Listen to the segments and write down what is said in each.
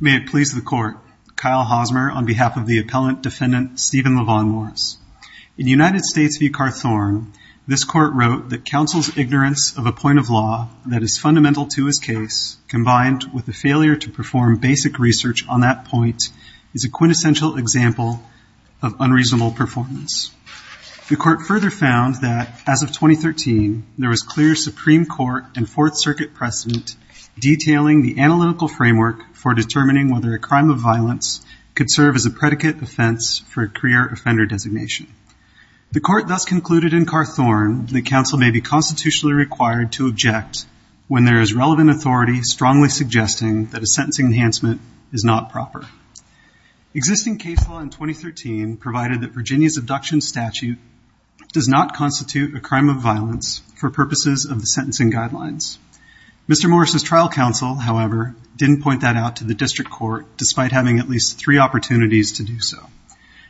May it please the court, Kyle Hosmer on behalf of the appellant defendant Steven LaVaughn Morris. In United States v. Carthorne, this court wrote that counsel's ignorance of a point of law that is fundamental to his case combined with the failure to perform basic research on that point is a quintessential example of unreasonable performance. The court further found that as of 2013 there was clear Supreme Court and Fourth Circuit precedent detailing the analytical framework for determining whether a crime of violence could serve as a predicate offense for a career offender designation. The court thus concluded in Carthorne the counsel may be constitutionally required to object when there is relevant authority strongly suggesting that a sentencing enhancement is not proper. Existing case law in 2013 provided that Virginia's abduction statute does not constitute a crime of violence for purposes of the abduction statute, however, didn't point that out to the district court despite having at least three opportunities to do so.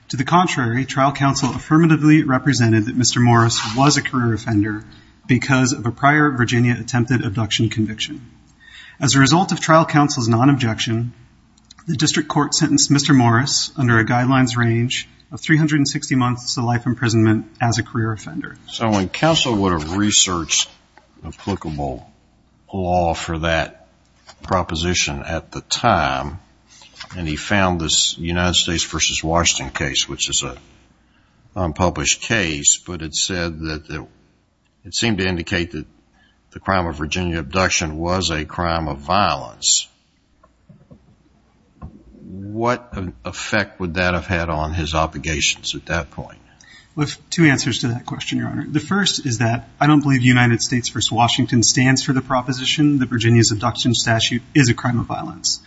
To the contrary, trial counsel affirmatively represented that Mr. Morris was a career offender because of a prior Virginia attempted abduction conviction. As a result of trial counsel's non-objection, the district court sentenced Mr. Morris under a guidelines range of 360 months to life imprisonment as a career offender. So when counsel would have researched applicable law for that proposition at the time and he found this United States v. Washington case, which is a unpublished case, but it said that it seemed to indicate that the crime of Virginia abduction was a crime of violence. What effect would that have had on his obligations at that point? We have two answers to that question, Your Honor. The first is that I don't believe United States v. Washington stands for the proposition that Virginia's abduction statute is a crime of violence.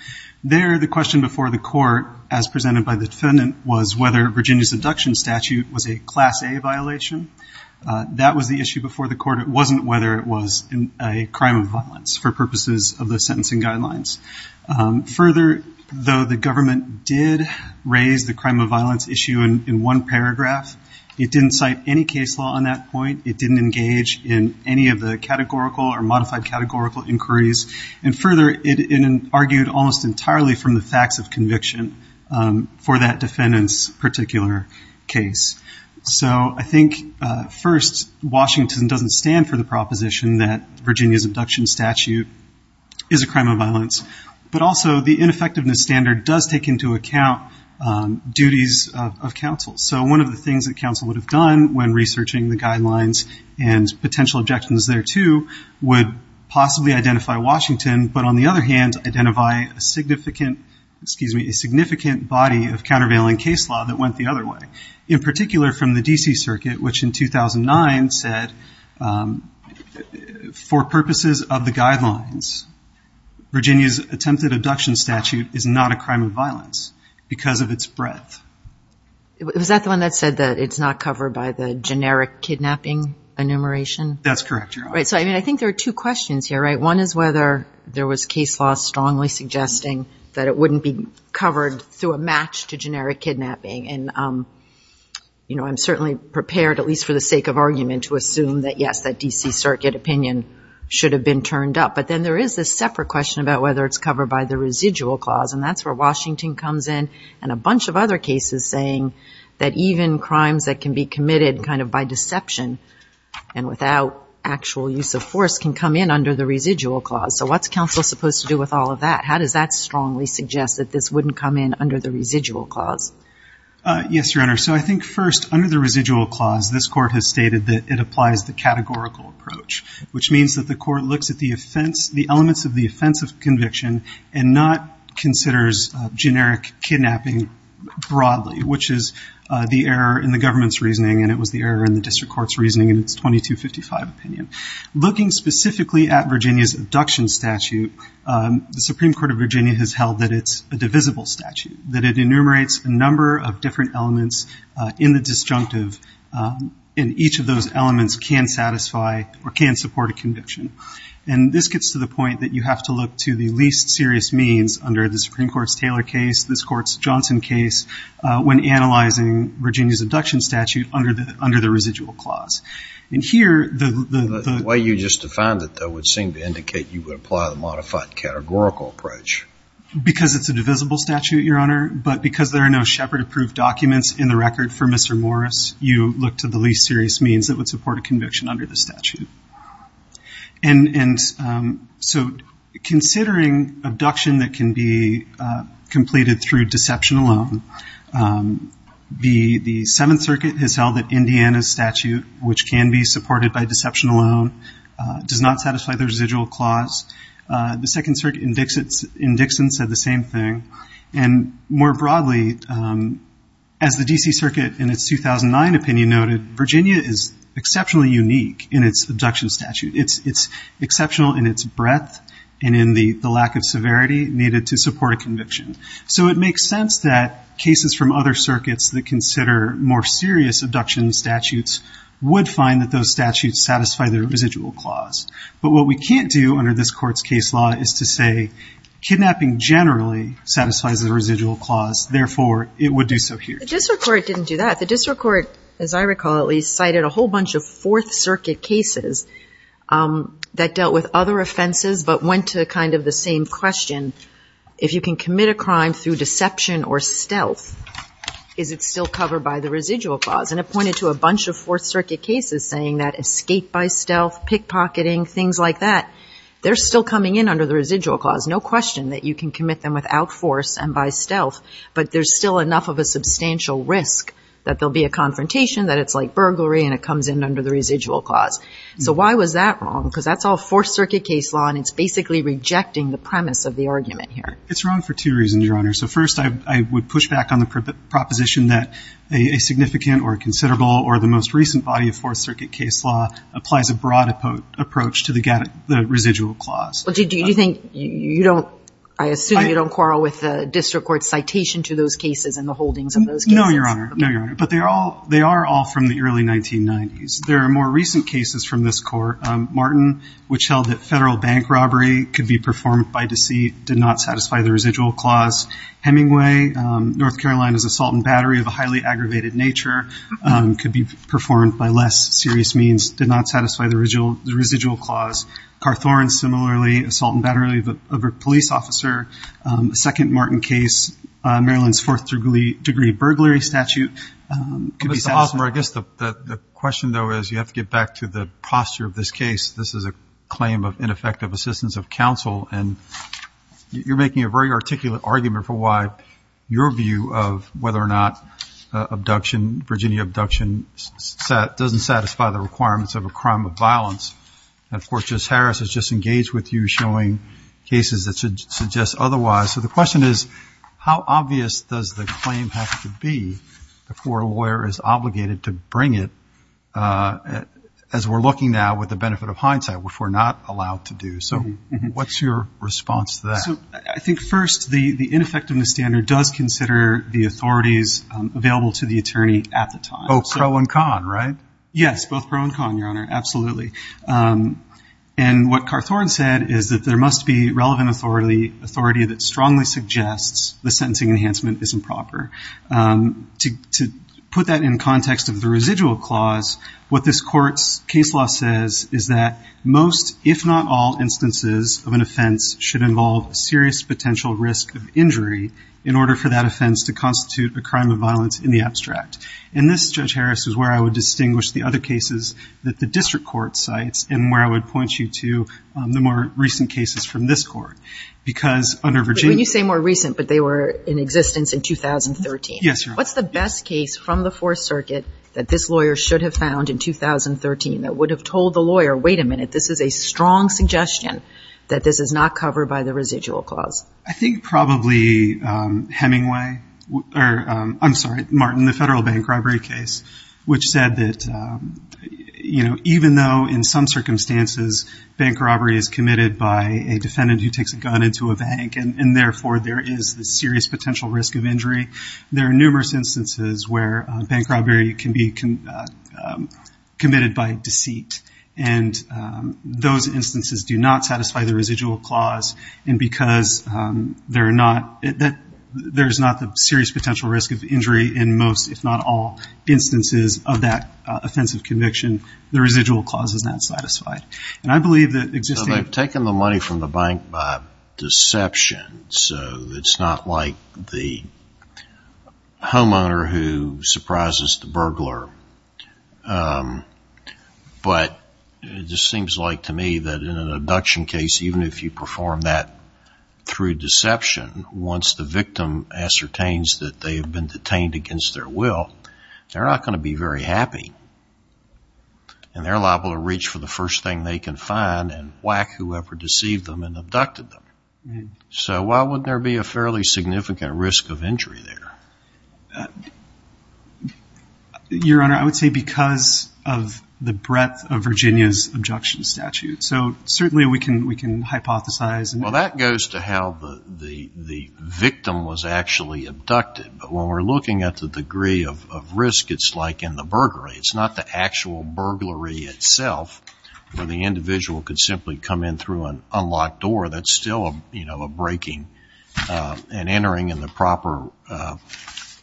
There, the question before the court, as presented by the defendant, was whether Virginia's abduction statute was a Class A violation. That was the issue before the court. It wasn't whether it was a crime of violence for purposes of the sentencing guidelines. Further, though the It didn't cite any case law on that point. It didn't engage in any of the categorical or modified categorical inquiries. And further, it argued almost entirely from the facts of conviction for that defendant's particular case. So I think, first, Washington doesn't stand for the proposition that Virginia's abduction statute is a crime of violence. But also, the ineffectiveness standard does take into account duties of counsel. So one of the things that counsel would have done when researching the guidelines and potential objections thereto would possibly identify Washington, but on the other hand, identify a significant body of countervailing case law that went the other way. In particular, from the D.C. Circuit, which in 2009 said, for purposes of the guidelines, Virginia's attempted abduction statute is not a crime of violence because of its breadth. Was that the one that said that it's not covered by the generic kidnapping enumeration? That's correct, Your Honor. So I think there are two questions here, right? One is whether there was case law strongly suggesting that it wouldn't be covered through a match to generic kidnapping. And I'm certainly prepared, at least for the sake of argument, to say that it's been turned up. But then there is this separate question about whether it's covered by the residual clause. And that's where Washington comes in and a bunch of other cases saying that even crimes that can be committed kind of by deception and without actual use of force can come in under the residual clause. So what's counsel supposed to do with all of that? How does that strongly suggest that this wouldn't come in under the residual clause? Yes, Your Honor. So I think, first, under the residual clause, this Court has looked at the elements of the offense of conviction and not considers generic kidnapping broadly, which is the error in the government's reasoning, and it was the error in the district court's reasoning in its 2255 opinion. Looking specifically at Virginia's abduction statute, the Supreme Court of Virginia has held that it's a divisible statute, that it enumerates a number of different elements in the disjunctive, and each of those elements can satisfy or satisfy a conviction. And this gets to the point that you have to look to the least serious means under the Supreme Court's Taylor case, this Court's Johnson case, when analyzing Virginia's abduction statute under the residual clause. And here, the... The way you just defined it, though, would seem to indicate you would apply the modified categorical approach. Because it's a divisible statute, Your Honor, but because there are no Shepard-approved documents in the record for Mr. Morris, you look to the least serious means that would support a conviction under the statute. And so, considering abduction that can be completed through deception alone, the Seventh Circuit has held that Indiana's statute, which can be supported by deception alone, does not satisfy the residual clause. The Second Circuit in Dixon said the same thing. And more broadly, as the D.C. Circuit in its 2009 opinion noted, Virginia is exceptionally unique in its abduction statute. It's exceptional in its breadth and in the lack of severity needed to support a conviction. So it makes sense that cases from other circuits that consider more serious abduction statutes would find that those statutes satisfy their residual clause. But what we can't do under this Court's case law is to say kidnapping generally satisfies the residual clause. Therefore, it would do so here. The district court didn't do that. The district court, as I recall at least, cited a whole bunch of Fourth Circuit cases that dealt with other offenses but went to kind of the same question. If you can commit a crime through deception or stealth, is it still covered by the residual clause? And it pointed to a bunch of Fourth Circuit cases saying that escape by stealth, pickpocketing, things like that, they're still coming in under the residual clause. No question that you can commit them without force and by stealth, but there's still enough of a substantial risk that there'll be a confrontation, that it's like burglary and it comes in under the residual clause. So why was that wrong? Because that's all Fourth Circuit case law and it's basically rejecting the premise of the argument here. It's wrong for two reasons, Your Honor. So first, I would push back on the proposition that a significant or considerable or the most recent body of Fourth Circuit case law applies a broad approach to the residual clause. But do you think you don't, I assume you don't quarrel with the district court's citation to those cases and the holdings of those cases? No, Your Honor. No, Your Honor. But they are all from the early 1990s. There are more recent cases from this court. Martin, which held that federal bank robbery could be performed by deceit, did not satisfy the residual clause. Hemingway, North Carolina's assault and battery of a highly aggravated nature could be performed by less serious means, did not satisfy the residual clause. Carthorne, similarly, assault and battery of a police officer, a second Martin case, Maryland's fourth degree burglary statute could be satisfied. Mr. Osler, I guess the question though is you have to get back to the posture of this case. This is a claim of ineffective assistance of counsel and you're making a very articulate argument for why your view of whether or not abduction, Virginia abduction, doesn't satisfy the requirements of a crime of violence. And of course, Judge Harris has just engaged with you showing cases that should suggest otherwise. So the question is, how obvious does the claim have to be before a lawyer is obligated to bring it as we're looking now with the benefit of hindsight, which we're not allowed to do? So what's your response to that? So I think first, the, the ineffectiveness standard does consider the authorities available to the attorney at the time. Both pro and con, right? Yes, both pro and con, Your Honor. Absolutely. And what Carthorne said is that there must be relevant authority, authority that strongly suggests the sentencing enhancement is improper. To, to put that in context of the residual clause, what this court's case law says is that most, if not all, instances of an offense should involve a serious potential risk of injury in order for that offense to constitute a crime of violence in the abstract. And this, Judge Harris, is where I would distinguish the other cases that the district court cites and where I would point you to the more recent cases from this court. Because under Virginia... But when you say more recent, but they were in existence in 2013. Yes, Your Honor. What's the best case from the Fourth Circuit that this lawyer should have found in 2013 that would have told the lawyer, wait a minute, this is a strong suggestion that this is not covered by the residual clause? I think probably Hemingway, or, I'm sorry, Martin, the Federal Bank robbery case, which said that, you know, even though in some circumstances bank robbery is committed by a defendant who takes a gun into a bank and, and therefore there is the serious potential risk of injury, there are numerous instances where bank robbery can be committed by deceit. And those instances do not satisfy the residual clause. And because they're not, there's not the serious potential risk of injury in most, if not all, instances of that offensive conviction, the residual clause is not satisfied. And I believe that existing... So they've taken the money from the bank by deception. So it's not like the homeowner who surprises the burglar. But it just seems like to me that in an abduction case, even if you perform that through deception, once the victim ascertains that they have been detained against their will, they're not going to be very happy. And they're liable to reach for the first thing they can find and whack whoever deceived them and abducted them. So why wouldn't there be a fairly significant risk of injury there? Your Honor, I would say because of the breadth of Virginia's abduction statute. So certainly we can, we can hypothesize. Well, that goes to how the, the, the victim was actually abducted. But when we're looking at the degree of risk, it's like in the burglary, it's not the actual burglary itself where the individual could simply come in through an unlocked door, that's still a, you know, a breaking and entering in the proper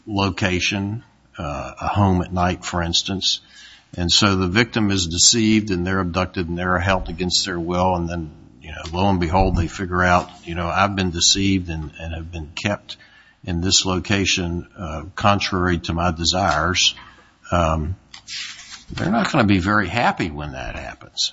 location, a home at night, for instance. And so the victim is deceived and they're abducted and they're held against their will. And then, you know, lo and behold, they figure out, you know, I've been in this location, contrary to my desires, they're not going to be very happy when that happens.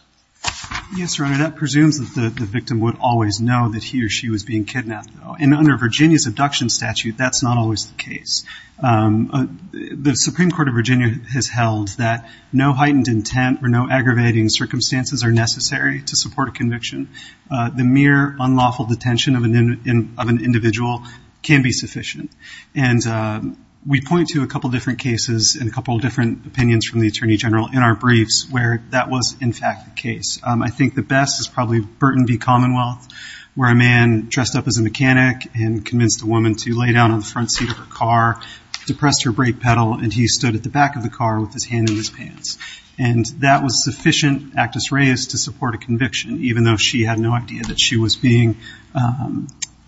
Yes, Your Honor, that presumes that the victim would always know that he or she was being kidnapped though. And under Virginia's abduction statute, that's not always the case. The Supreme Court of Virginia has held that no heightened intent or no aggravating circumstances are necessary to support a conviction. The mere unlawful detention of an individual can be sufficient. And we point to a couple of different cases and a couple of different opinions from the Attorney General in our briefs where that was, in fact, the case. I think the best is probably Burton v. Commonwealth, where a man dressed up as a mechanic and convinced a woman to lay down on the front seat of her car, depressed her brake pedal, and he stood at the back of the car with his hand in his pants. And that was sufficient, actus reus, to support a conviction, even though she had no idea that she was being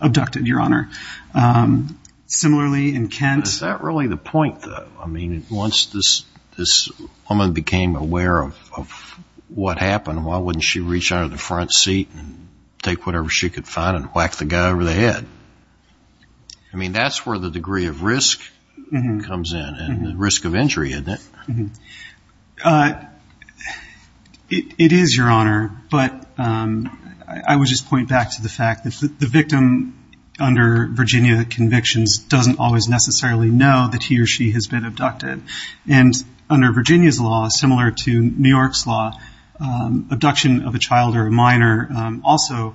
abducted, Your Honor. Similarly, in Kent. Is that really the point though? I mean, once this woman became aware of what happened, why wouldn't she reach out of the front seat and take whatever she could find and whack the guy over the head? I mean, that's where the degree of risk comes in and the risk of injury, isn't it? It is, Your Honor, but I would just point back to the fact that the victim under Virginia convictions doesn't always necessarily know that he or she has been abducted. And under Virginia's law, similar to New York's law, abduction of a child or a minor also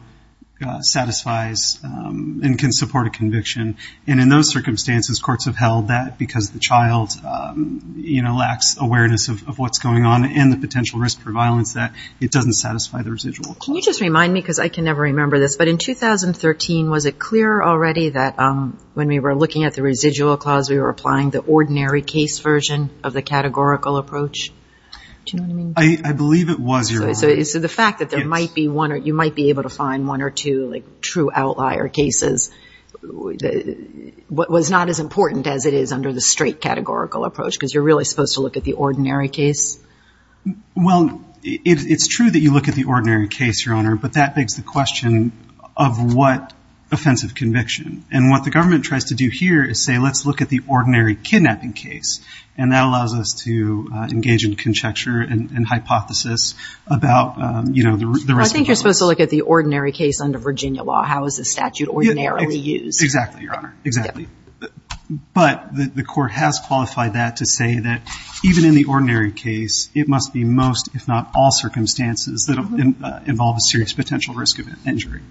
satisfies and can support a conviction. And in those circumstances, courts have held that because the child lacks awareness of what's going on and the potential risk for violence, that it doesn't satisfy the residual clause. Can you just remind me, because I can never remember this, but in 2013, was it clear already that when we were looking at the residual clause, we were applying the ordinary case version of the categorical approach? Do you know what I mean? I believe it was, Your Honor. So the fact that you might be able to find one or two true outlier cases was not as important as it is under the straight categorical approach, because you're really supposed to look at the ordinary case? Well, it's true that you look at the ordinary case, Your Honor, but that begs the question of what offensive conviction. And what the government tries to do here is say, let's look at the ordinary kidnapping case, and that allows us to engage in conjecture and hypothesis about, you know, the rest of the rules. I think you're supposed to look at the ordinary case under Virginia law. How is the statute ordinarily used? Exactly, Your Honor. Exactly. But the court has qualified that to say that even in the ordinary case, it must be most, if not all, circumstances that involve a serious potential risk of injury.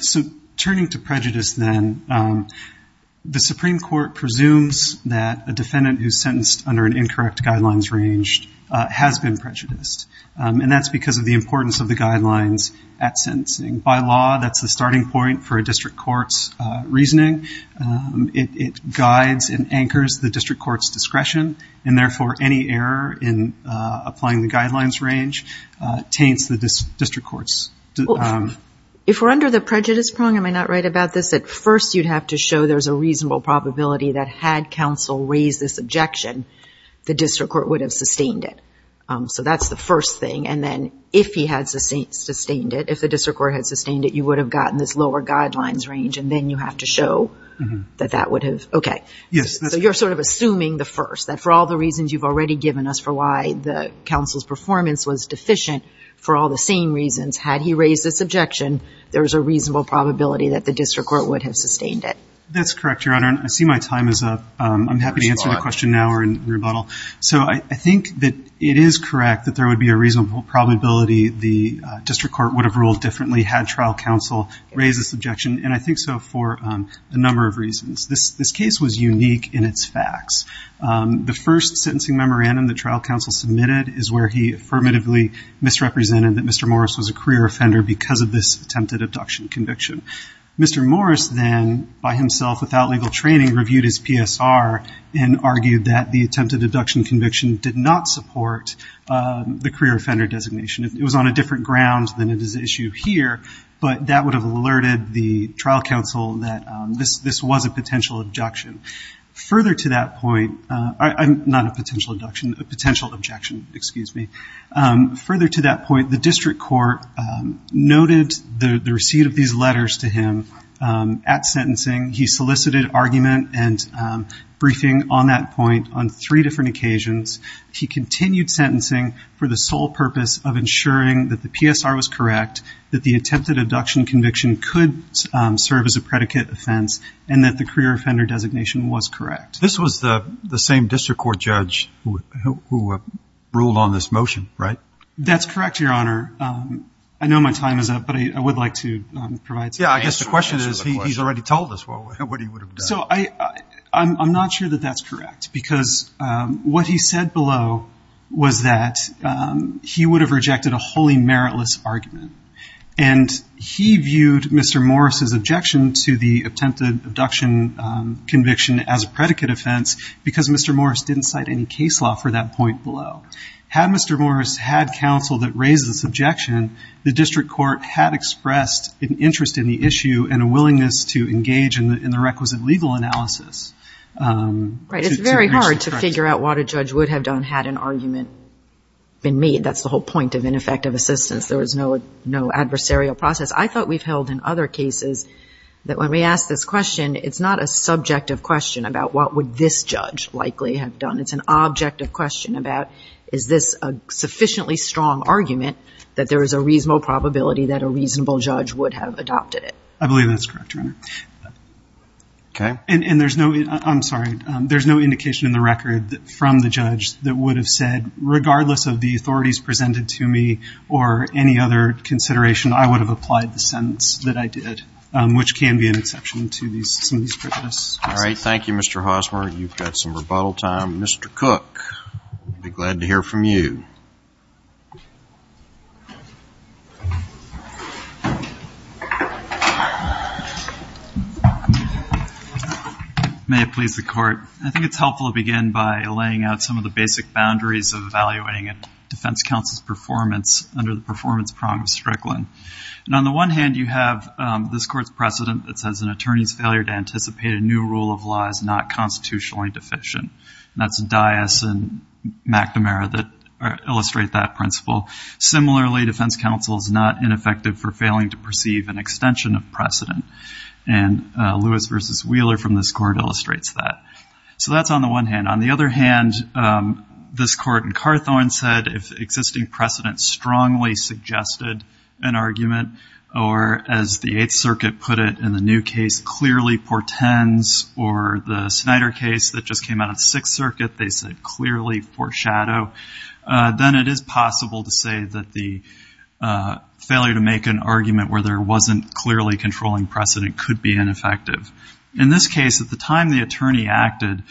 So turning to prejudice then, the Supreme Court presumes that a defendant who's sentenced under an incorrect guidelines range has been prejudiced, and that's because of the importance of the guidelines at sentencing. By law, that's the starting point for a district court's reasoning. It guides and anchors the district court's discretion, and therefore any error in applying the guidelines range taints the district court's. If we're under the prejudice prong, am I not right about this? At first, you'd have to show there's a reasonable probability that had counsel raised this objection, the district court would have sustained it. So that's the first thing. And then if he had sustained it, if the district court had sustained it, you would have gotten this lower guidelines range, and then you have to show that that would have, okay. Yes. So you're sort of assuming the first, that for all the reasons you've already given us for why the counsel's performance was deficient, for all the same reasons, had he raised this objection, there was a reasonable probability that the district court would have sustained it. That's correct, Your Honor. And I see my time is up. I'm happy to answer the question now or in rebuttal. So I think that it is correct that there would be a reasonable probability the district court would have ruled differently had trial counsel raised this objection, and I think so for a number of reasons. This case was unique in its facts. The first sentencing memorandum that trial counsel submitted is where he affirmatively misrepresented that Mr. Morris was a career offender because of this attempted abduction conviction. Mr. Morris then, by himself without legal training, reviewed his PSR and argued that the attempted abduction conviction did not support the career offender designation. It was on a different ground than it is the issue here, but that would have alerted the trial counsel that this was a potential objection. Further to that point, not a potential abduction, a potential objection, excuse me. Further to that point, the district court noted the receipt of these letters to him at sentencing. He solicited argument and briefing on that point on three different occasions. He continued sentencing for the sole purpose of ensuring that the PSR was correct, that the attempted abduction conviction could serve as a predicate offense, and that the career offender designation was correct. This was the same district court judge who ruled on this motion, right? That's correct, Your Honor. I know my time is up, but I would like to provide some answers. Yeah, I guess the question is, he's already told us what he would have done. So I'm not sure that that's correct because what he said below was that he would have rejected a wholly meritless argument. And he viewed Mr. Morris's objection to the attempted abduction conviction as a predicate offense because Mr. Morris didn't cite any case law for that point below. Had Mr. Morris had counsel that raised this objection, the district court had expressed an interest in the issue and a willingness to engage in the requisite legal analysis. Right. It's very hard to figure out what a judge would have done had an argument been made. That's the whole point of ineffective assistance. There was no adversarial process. I thought we've held in other cases that when we ask this question, it's not a subjective question about what would this judge likely have done. It's an objective question about, is this a sufficiently strong argument that there is a reasonable probability that a reasonable judge would have adopted it? I believe that's correct, Your Honor. Okay. And there's no, I'm sorry, there's no indication in the record from the judge that would have said, regardless of the authorities presented to me or any other consideration, I would have applied the sentence that I did, which can be an exception to these, some of these prejudice. All right. Thank you, Mr. Hosmer. You've got some rebuttal time. Mr. Cook, be glad to hear from you. May it please the court. I think it's helpful to begin by laying out some of the basic boundaries of evaluating a defense counsel's performance under the performance prong of Strickland. And on the one hand, you have this court's precedent that says an attorney's failure to anticipate a new rule of law is not constitutionally deficient. And that's Dias and McNamara that illustrate that principle. Similarly, defense counsel is not ineffective for failing to perceive an extension of precedent. And Lewis versus Wheeler from this court illustrates that. So that's on the one hand. On the other hand, this court in Carthorne said if existing precedent strongly suggested an argument, or as the Eighth Circuit put it in the new case, clearly portends, or the Snyder case that just came out of the Sixth Circuit, they said clearly foreshadow, then it is possible to say that the failure to make an argument where there wasn't clearly controlling precedent could be ineffective. In this case, at the time the attorney acted,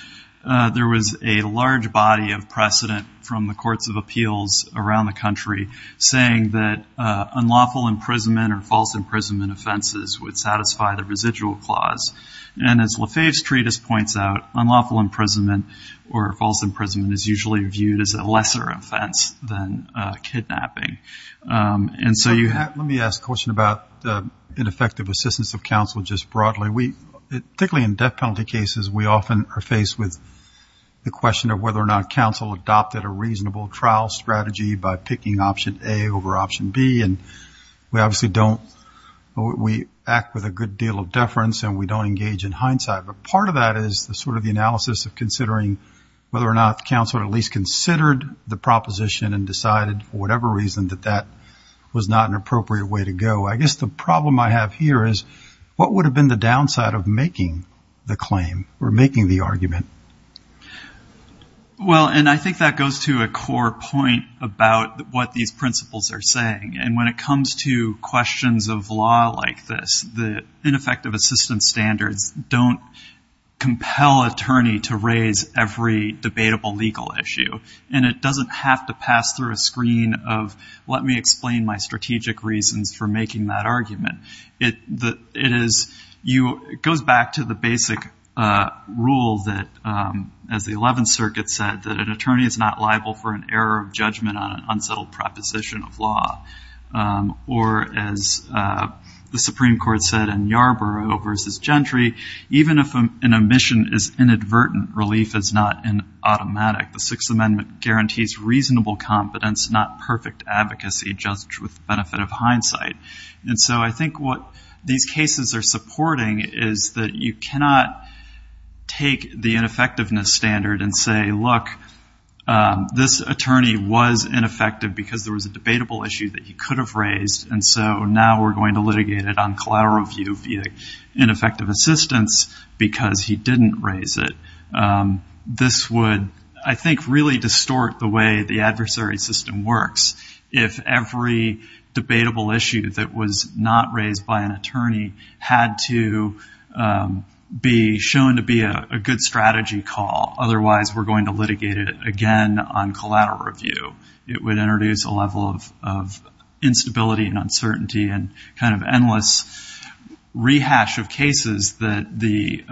there was a large body of precedent from the courts of appeals around the country saying that unlawful imprisonment or false imprisonment offenses would satisfy the residual clause. And as Lafayette's treatise points out, unlawful imprisonment or false imprisonment is usually viewed as a lesser offense than kidnapping. And so you have... Let me ask a question about ineffective assistance of counsel just broadly. We, particularly in death penalty cases, we often are faced with the question of whether or not counsel adopted a reasonable trial strategy by picking option A over option B and we obviously don't, we act with a good deal of deference and we don't engage in hindsight. But part of that is the sort of the analysis of considering whether or not counsel at least considered the proposition and decided for whatever reason that that was not an appropriate way to go. I guess the problem I have here is what would have been the downside of making the claim or making the argument? Well, and I think that goes to a core point about what these principles are saying and when it comes to questions of law like this, the ineffective assistance standards don't compel attorney to raise every debatable legal issue and it doesn't have to pass through a screen of, let me explain my argument. It goes back to the basic rule that as the 11th circuit said, that an attorney is not liable for an error of judgment on an unsettled proposition of law. Or as the Supreme Court said in Yarborough versus Gentry, even if an omission is inadvertent, relief is not an automatic. The Sixth Amendment guarantees reasonable competence, not perfect advocacy, just with the benefit of hindsight. And so I think what these cases are supporting is that you cannot take the ineffectiveness standard and say, look, this attorney was ineffective because there was a debatable issue that he could have raised. And so now we're going to litigate it on collateral view via ineffective assistance because he didn't raise it. This would, I think, really distort the way the adversary system works. If every debatable issue that was not raised by an attorney had to be shown to be a good strategy call, otherwise we're going to litigate it again on collateral review. It would introduce a level of instability and uncertainty and kind of endless rehash of cases that the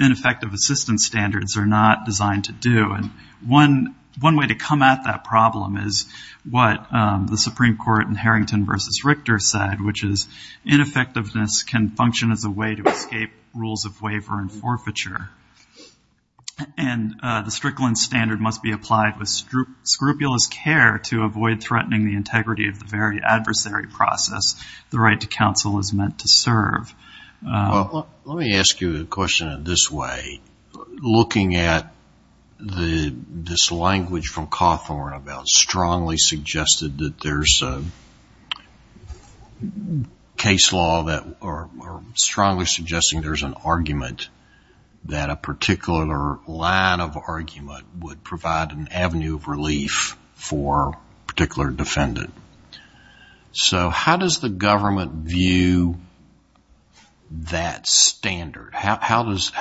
ineffective assistance standards are not designed to do. One way to come at that problem is what the Supreme Court in Harrington versus Richter said, which is ineffectiveness can function as a way to escape rules of waiver and forfeiture. And the Strickland standard must be applied with scrupulous care to avoid threatening the integrity of the very adversary process the right to counsel is meant to serve. Well, let me ask you a question in this way, looking at this language from Cawthorne about strongly suggested that there's a case law that are strongly suggesting there's an argument that a particular line of argument would provide an avenue of relief for a particular defendant. So how does the government view that standard? How does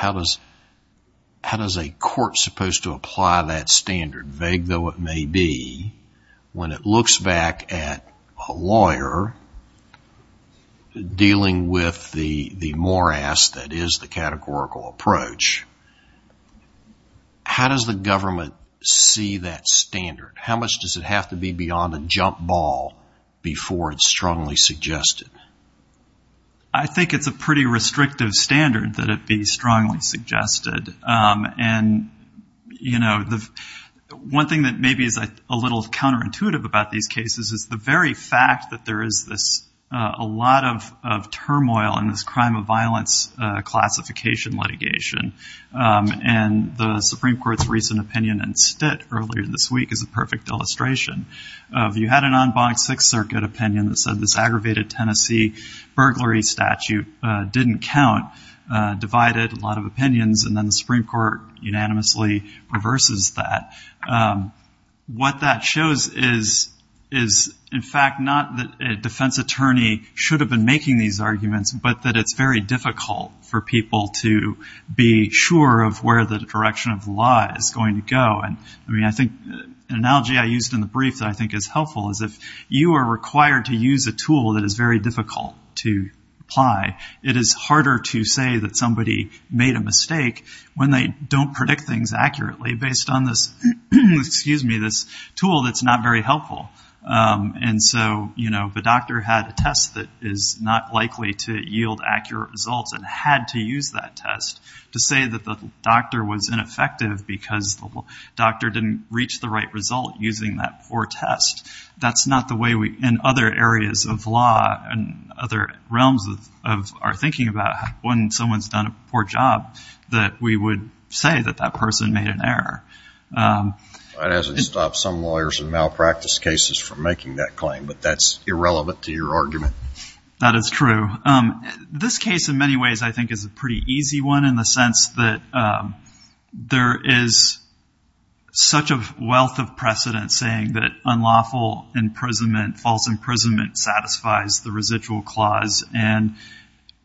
a court supposed to apply that standard, vague though it may be, when it looks back at a lawyer dealing with the morass that is the categorical approach, how does the government see that standard? How much does it have to be beyond a jump ball before it's strongly suggested? I think it's a pretty restrictive standard that it be strongly suggested. And you know, the one thing that maybe is a little counterintuitive about these cases is the very fact that there is this a lot of, of turmoil in this crime of violence classification litigation and the Supreme Court's recent opinion and stint earlier this week is a perfect illustration of you had an unbonked Sixth Circuit opinion that said this aggravated Tennessee burglary statute didn't count, divided a lot of opinions. And then the Supreme Court unanimously reverses that. What that shows is, is in fact, not that a defense attorney should have been making these arguments, but that it's very difficult for people to be sure of where the direction of the law is going to go. And I mean, I think an analogy I used in the brief that I think is helpful is if you are required to use a tool that is very difficult to apply, it is harder to say that somebody made a mistake when they don't predict things accurately based on this, excuse me, this tool that's not very helpful. And so, you know, the doctor had a test that is not likely to yield accurate results and had to use that test to say that the doctor was ineffective because the doctor didn't reach the right result using that poor test. That's not the way we, in other areas of law and other realms of our thinking about when someone's done a poor job, that we would say that that person made an error. It hasn't stopped some lawyers and malpractice cases from making that claim, but that's irrelevant to your argument. That is true. This case in many ways I think is a pretty easy one in the sense that there is such a wealth of precedent saying that unlawful imprisonment, false imprisonment satisfies the residual clause and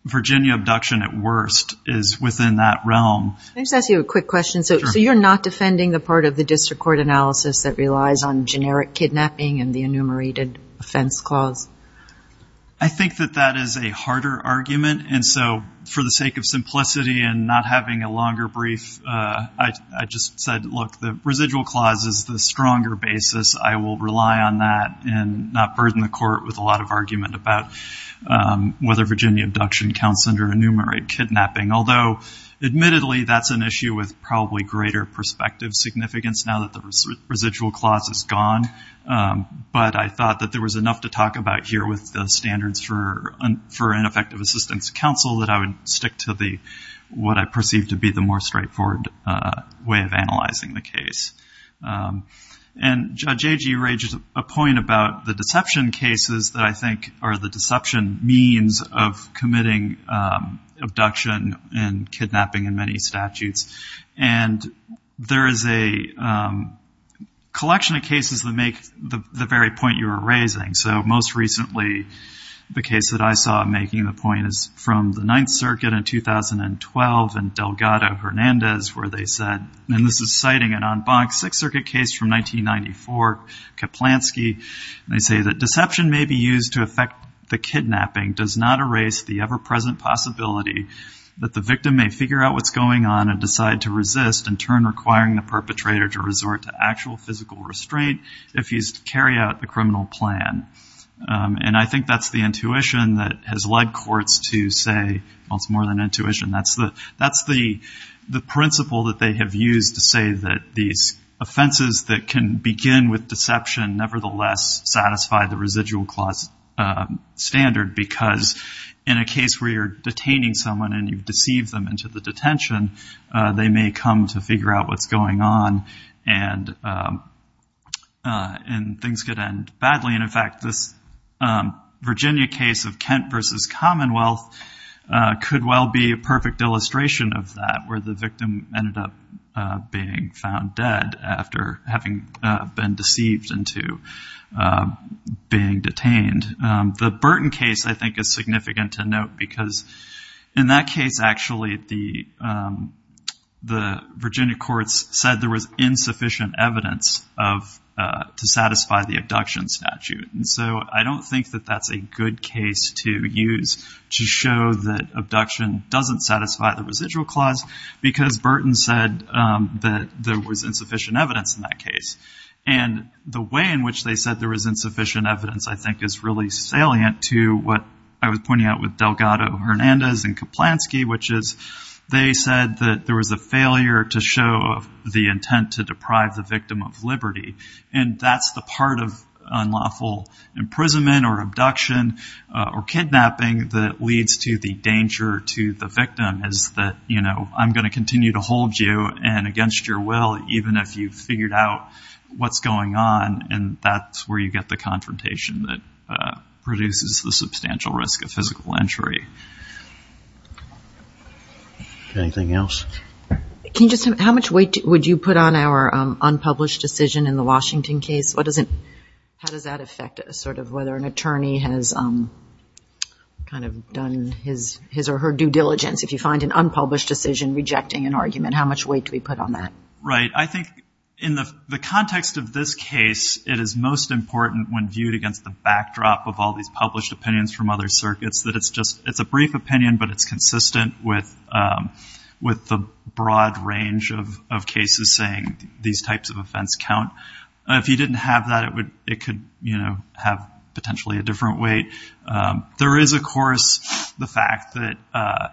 Virginia abduction at worst is within that realm. Let me just ask you a quick question. So you're not defending the part of the district court analysis that relies on generic kidnapping and the enumerated offense clause? I think that that is a harder argument and so for the sake of simplicity and not having a longer brief, I just said, look, the residual clause is the stronger basis. I will rely on that and not burden the court with a lot of argument about whether Virginia abduction counts under enumerated kidnapping. Although admittedly that's an issue with probably greater perspective significance now that the residual clause is gone. But I thought that there was enough to talk about here with the standards for ineffective assistance counsel that I would stick to what I perceive to be the more straightforward way of analyzing the case. And Judge Agee raised a point about the deception cases that I think are the deception means of committing abduction and kidnapping in many statutes. And there is a collection of cases that make the very point you were raising. So most recently the case that I saw making the point is from the Ninth Circuit in 2012 and Delgado Hernandez where they said, and this is citing an en banc Sixth Circuit case from 1994, Kaplansky and they say that deception may be used to affect the kidnapping, does not erase the ever present possibility that the victim may figure out what's going on and decide to resist and turn requiring the perpetrator to resort to actual physical restraint if he's to carry out the criminal plan. And I think that's the intuition that has led courts to say, well it's more than intuition. That's the principle that they have used to say that these offenses that can begin with deception nevertheless satisfy the residual clause standard because in a case where you're detaining someone and you've deceived them into the detention they may come to figure out what's going on and and things could end badly. And in fact this Virginia case of Kent versus Commonwealth could well be a perfect illustration of that where the victim ended up being found dead after having been deceived into being detained. The Burton case I think is significant to note because in that case actually the Virginia courts said there was insufficient evidence to satisfy the abduction statute. And so I don't think that that's a good case to use to show that abduction doesn't satisfy the residual clause because Burton said that there was insufficient evidence in that case and the way in which they said there was insufficient evidence to satisfy the residual clause is really salient to what I was pointing out with Delgado Hernandez and Kaplansky which is they said that there was a failure to show the intent to deprive the victim of liberty and that's the part of unlawful imprisonment or abduction or kidnapping that leads to the danger to the victim is that you know I'm going to continue to hold you and against your will even if you've figured out what's going on and that's where you get the confrontation that produces the substantial risk of physical entry. Anything else? How much weight would you put on our unpublished decision in the Washington case? How does that affect sort of whether an attorney has kind of done his or her due and how much weight could be put on that? Right I think in the context of this case it is most important when viewed against the backdrop of all these published opinions from other circuits that it's just it's a brief opinion but it's consistent with the broad range of cases saying these types of offense count. If you didn't have that it could you know have potentially a different weight. There is of course the fact that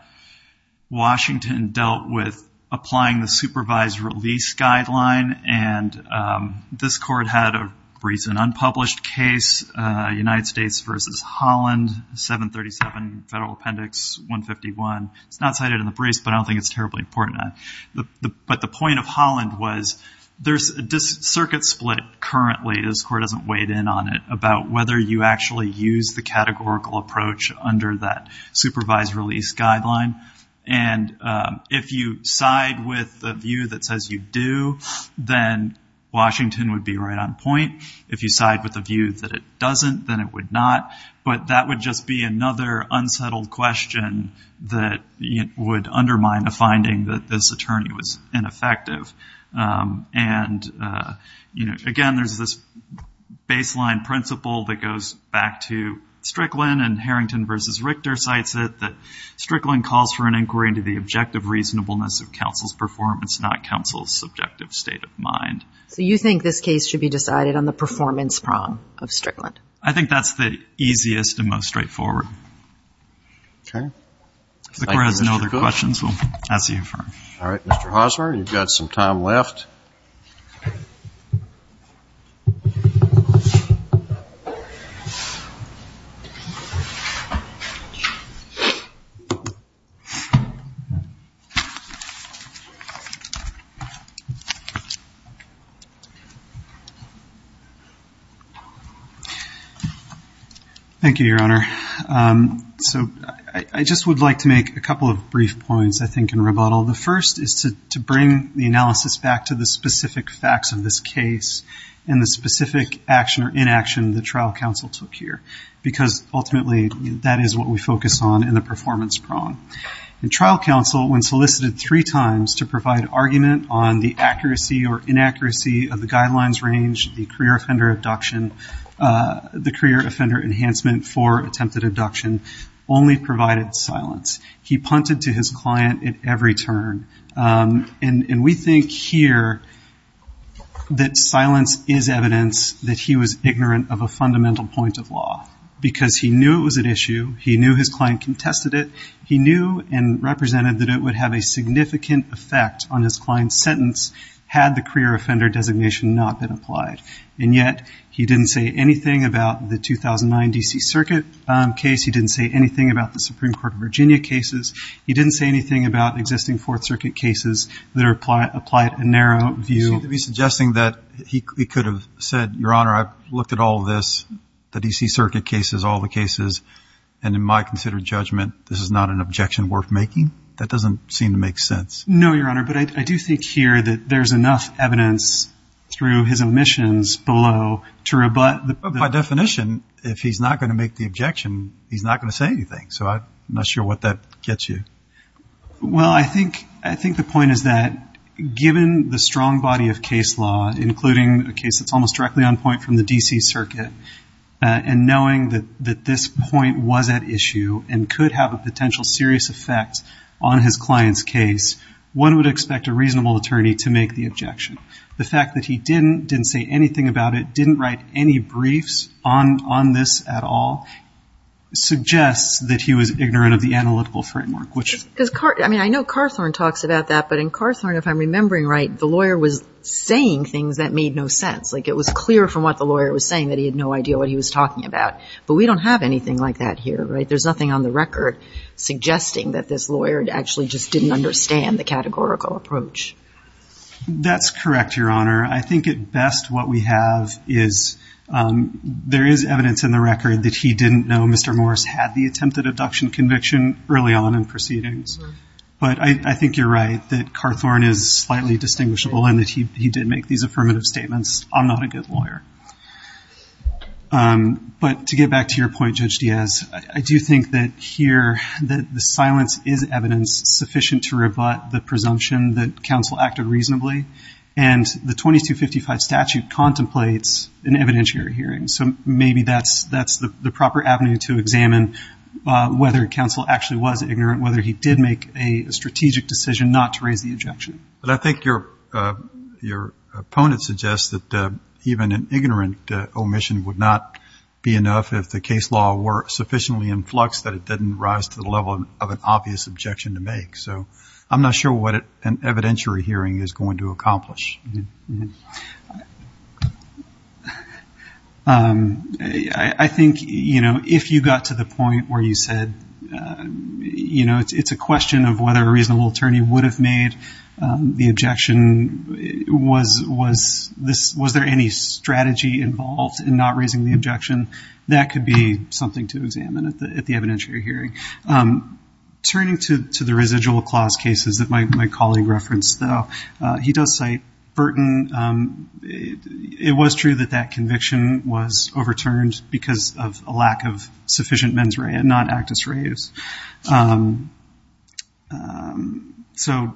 Washington dealt with applying the supervised release guideline and this court had a recent unpublished case United States versus Holland 737 Federal Appendix 151. It's not cited in the briefs but I don't think it's terribly important. But the point of Holland was there's a circuit split currently this court doesn't really use the categorical approach under that supervised release guideline. And if you side with the view that says you do then Washington would be right on point. If you side with the view that it doesn't then it would not. But that would just be another unsettled question that would undermine the finding that this attorney was ineffective. I think that's the easiest and most straightforward. All right. Mr. Hosmer you have some time left. I think that's the case. I think that's the case. Thank you, Your Honor. So I just would like to make a couple of brief points I think in rebuttal. The first is to bring the analysis back to the specific facts of this case and the specific action or inaction the trial counsel took here. Because ultimately that is what we focus on in the performance prong. The trial counsel when solicited three times to provide argument on the accuracy or inaccuracy of the guidelines range, the career offender enhancement for attempted abduction only provided silence. He punted to his client at every turn. And we think here that silence is evidence that he was ignorant of a fundamental point of law. Because he knew it was an issue. He knew his client contested it. He knew and represented that it would have a significant effect on his client's sentence had the career offender designation not been applied. And yet he didn't say anything about the 2009 D.C. Circuit case. He didn't say anything about the Supreme Court of Virginia cases. He didn't say anything about existing Fourth Circuit cases that are applied in narrow view. Suggesting that he could have said, Your Honor, I've looked at all of this, the D.C. Circuit cases, all the cases, and in my considered judgment this is not an objection worth making? That doesn't seem to make sense. No, Your Honor, but I do think here that there's enough evidence through his omissions below to rebut. By definition if he's not going to make the objection, he's not going to say anything. So I'm not sure what that gets you. Well, I think the point is that given the strong body of case law, including a case that's almost directly on point from the D.C. Circuit, and knowing that this point was at issue and could have a potential serious effect on his client's case, one would expect a reasonable attorney to make the objection. The fact that he didn't, didn't say anything about it, didn't write any briefs on this at all, suggests that he was ignorant of the analytical framework. I mean, I know Carthorne talks about that, but in Carthorne, if I'm remembering right, the lawyer was saying things that made no sense. Like it was clear from what the lawyer was saying that he had no idea what he was talking about. But we don't have anything like that here, right? There's nothing on the record suggesting that this lawyer actually just didn't understand the categorical approach. That's correct, Your Honor. I think at best what we have is, there is evidence in the record that he didn't know Mr. Morris had the attempted abduction conviction early on in proceedings. But I think you're right that Carthorne is slightly distinguishable and that he did make these affirmative statements. I'm not a good lawyer. But to get back to your point, Judge Diaz, I do think that here, that the silence is evidence sufficient to rebut the presumption that counsel acted reasonably. And the 2255 statute contemplates an evidentiary hearing. So maybe that's the proper avenue to examine whether counsel actually was ignorant, whether he did make a strategic decision not to raise the objection. But I think your opponent suggests that even an ignorant omission would not be enough if the case law were sufficiently in flux that it didn't rise to the level of an obvious objection to make. So I'm not sure what an evidentiary hearing is going to accomplish. I think if you got to the point where you said it's a question of whether a reasonable attorney would have made the objection. Was there any strategy involved in not raising the objection? That could be something to examine at the evidentiary hearing. Turning to the residual clause cases that my colleague referenced, he does cite Burton. It was true that that conviction was overturned because of a lack of sufficient mens rea, not actus reus. So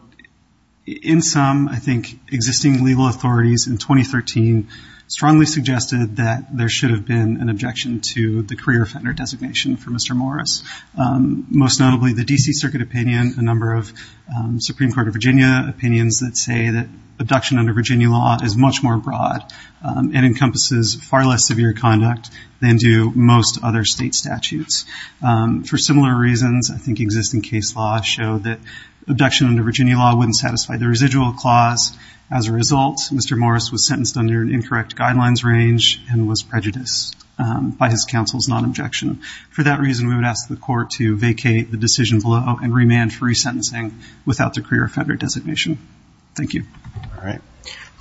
in sum, I think existing legal authorities in 2013 strongly suggested that there should have been an objection to the career offender designation for Mr. Morris. Most notably, the D.C. Circuit opinion, a number of Supreme Court of Virginia opinions that say that abduction under Virginia law is much more broad and encompasses far less severe conduct than do most other state statutes. For similar reasons, I think existing case law showed that abduction under Virginia law wouldn't satisfy the residual clause. As a result, Mr. Morris was sentenced under an incorrect guidelines range and was prejudiced by his counsel's non-objection. For that reason, we would ask the court to vacate the decision below and remand free sentencing without the career offender designation. Thank you.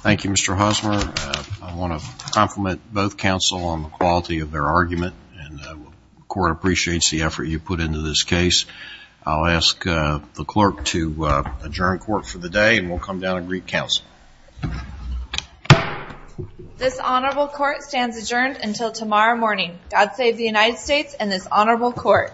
Thank you, Mr. Husmer. I want to compliment both counsel on the quality of their argument and the court appreciates the effort you put into this case. I'll ask the clerk to adjourn court for the day and we'll come down and greet counsel. This honorable court stands adjourned until tomorrow morning. God save the United States and this honorable court.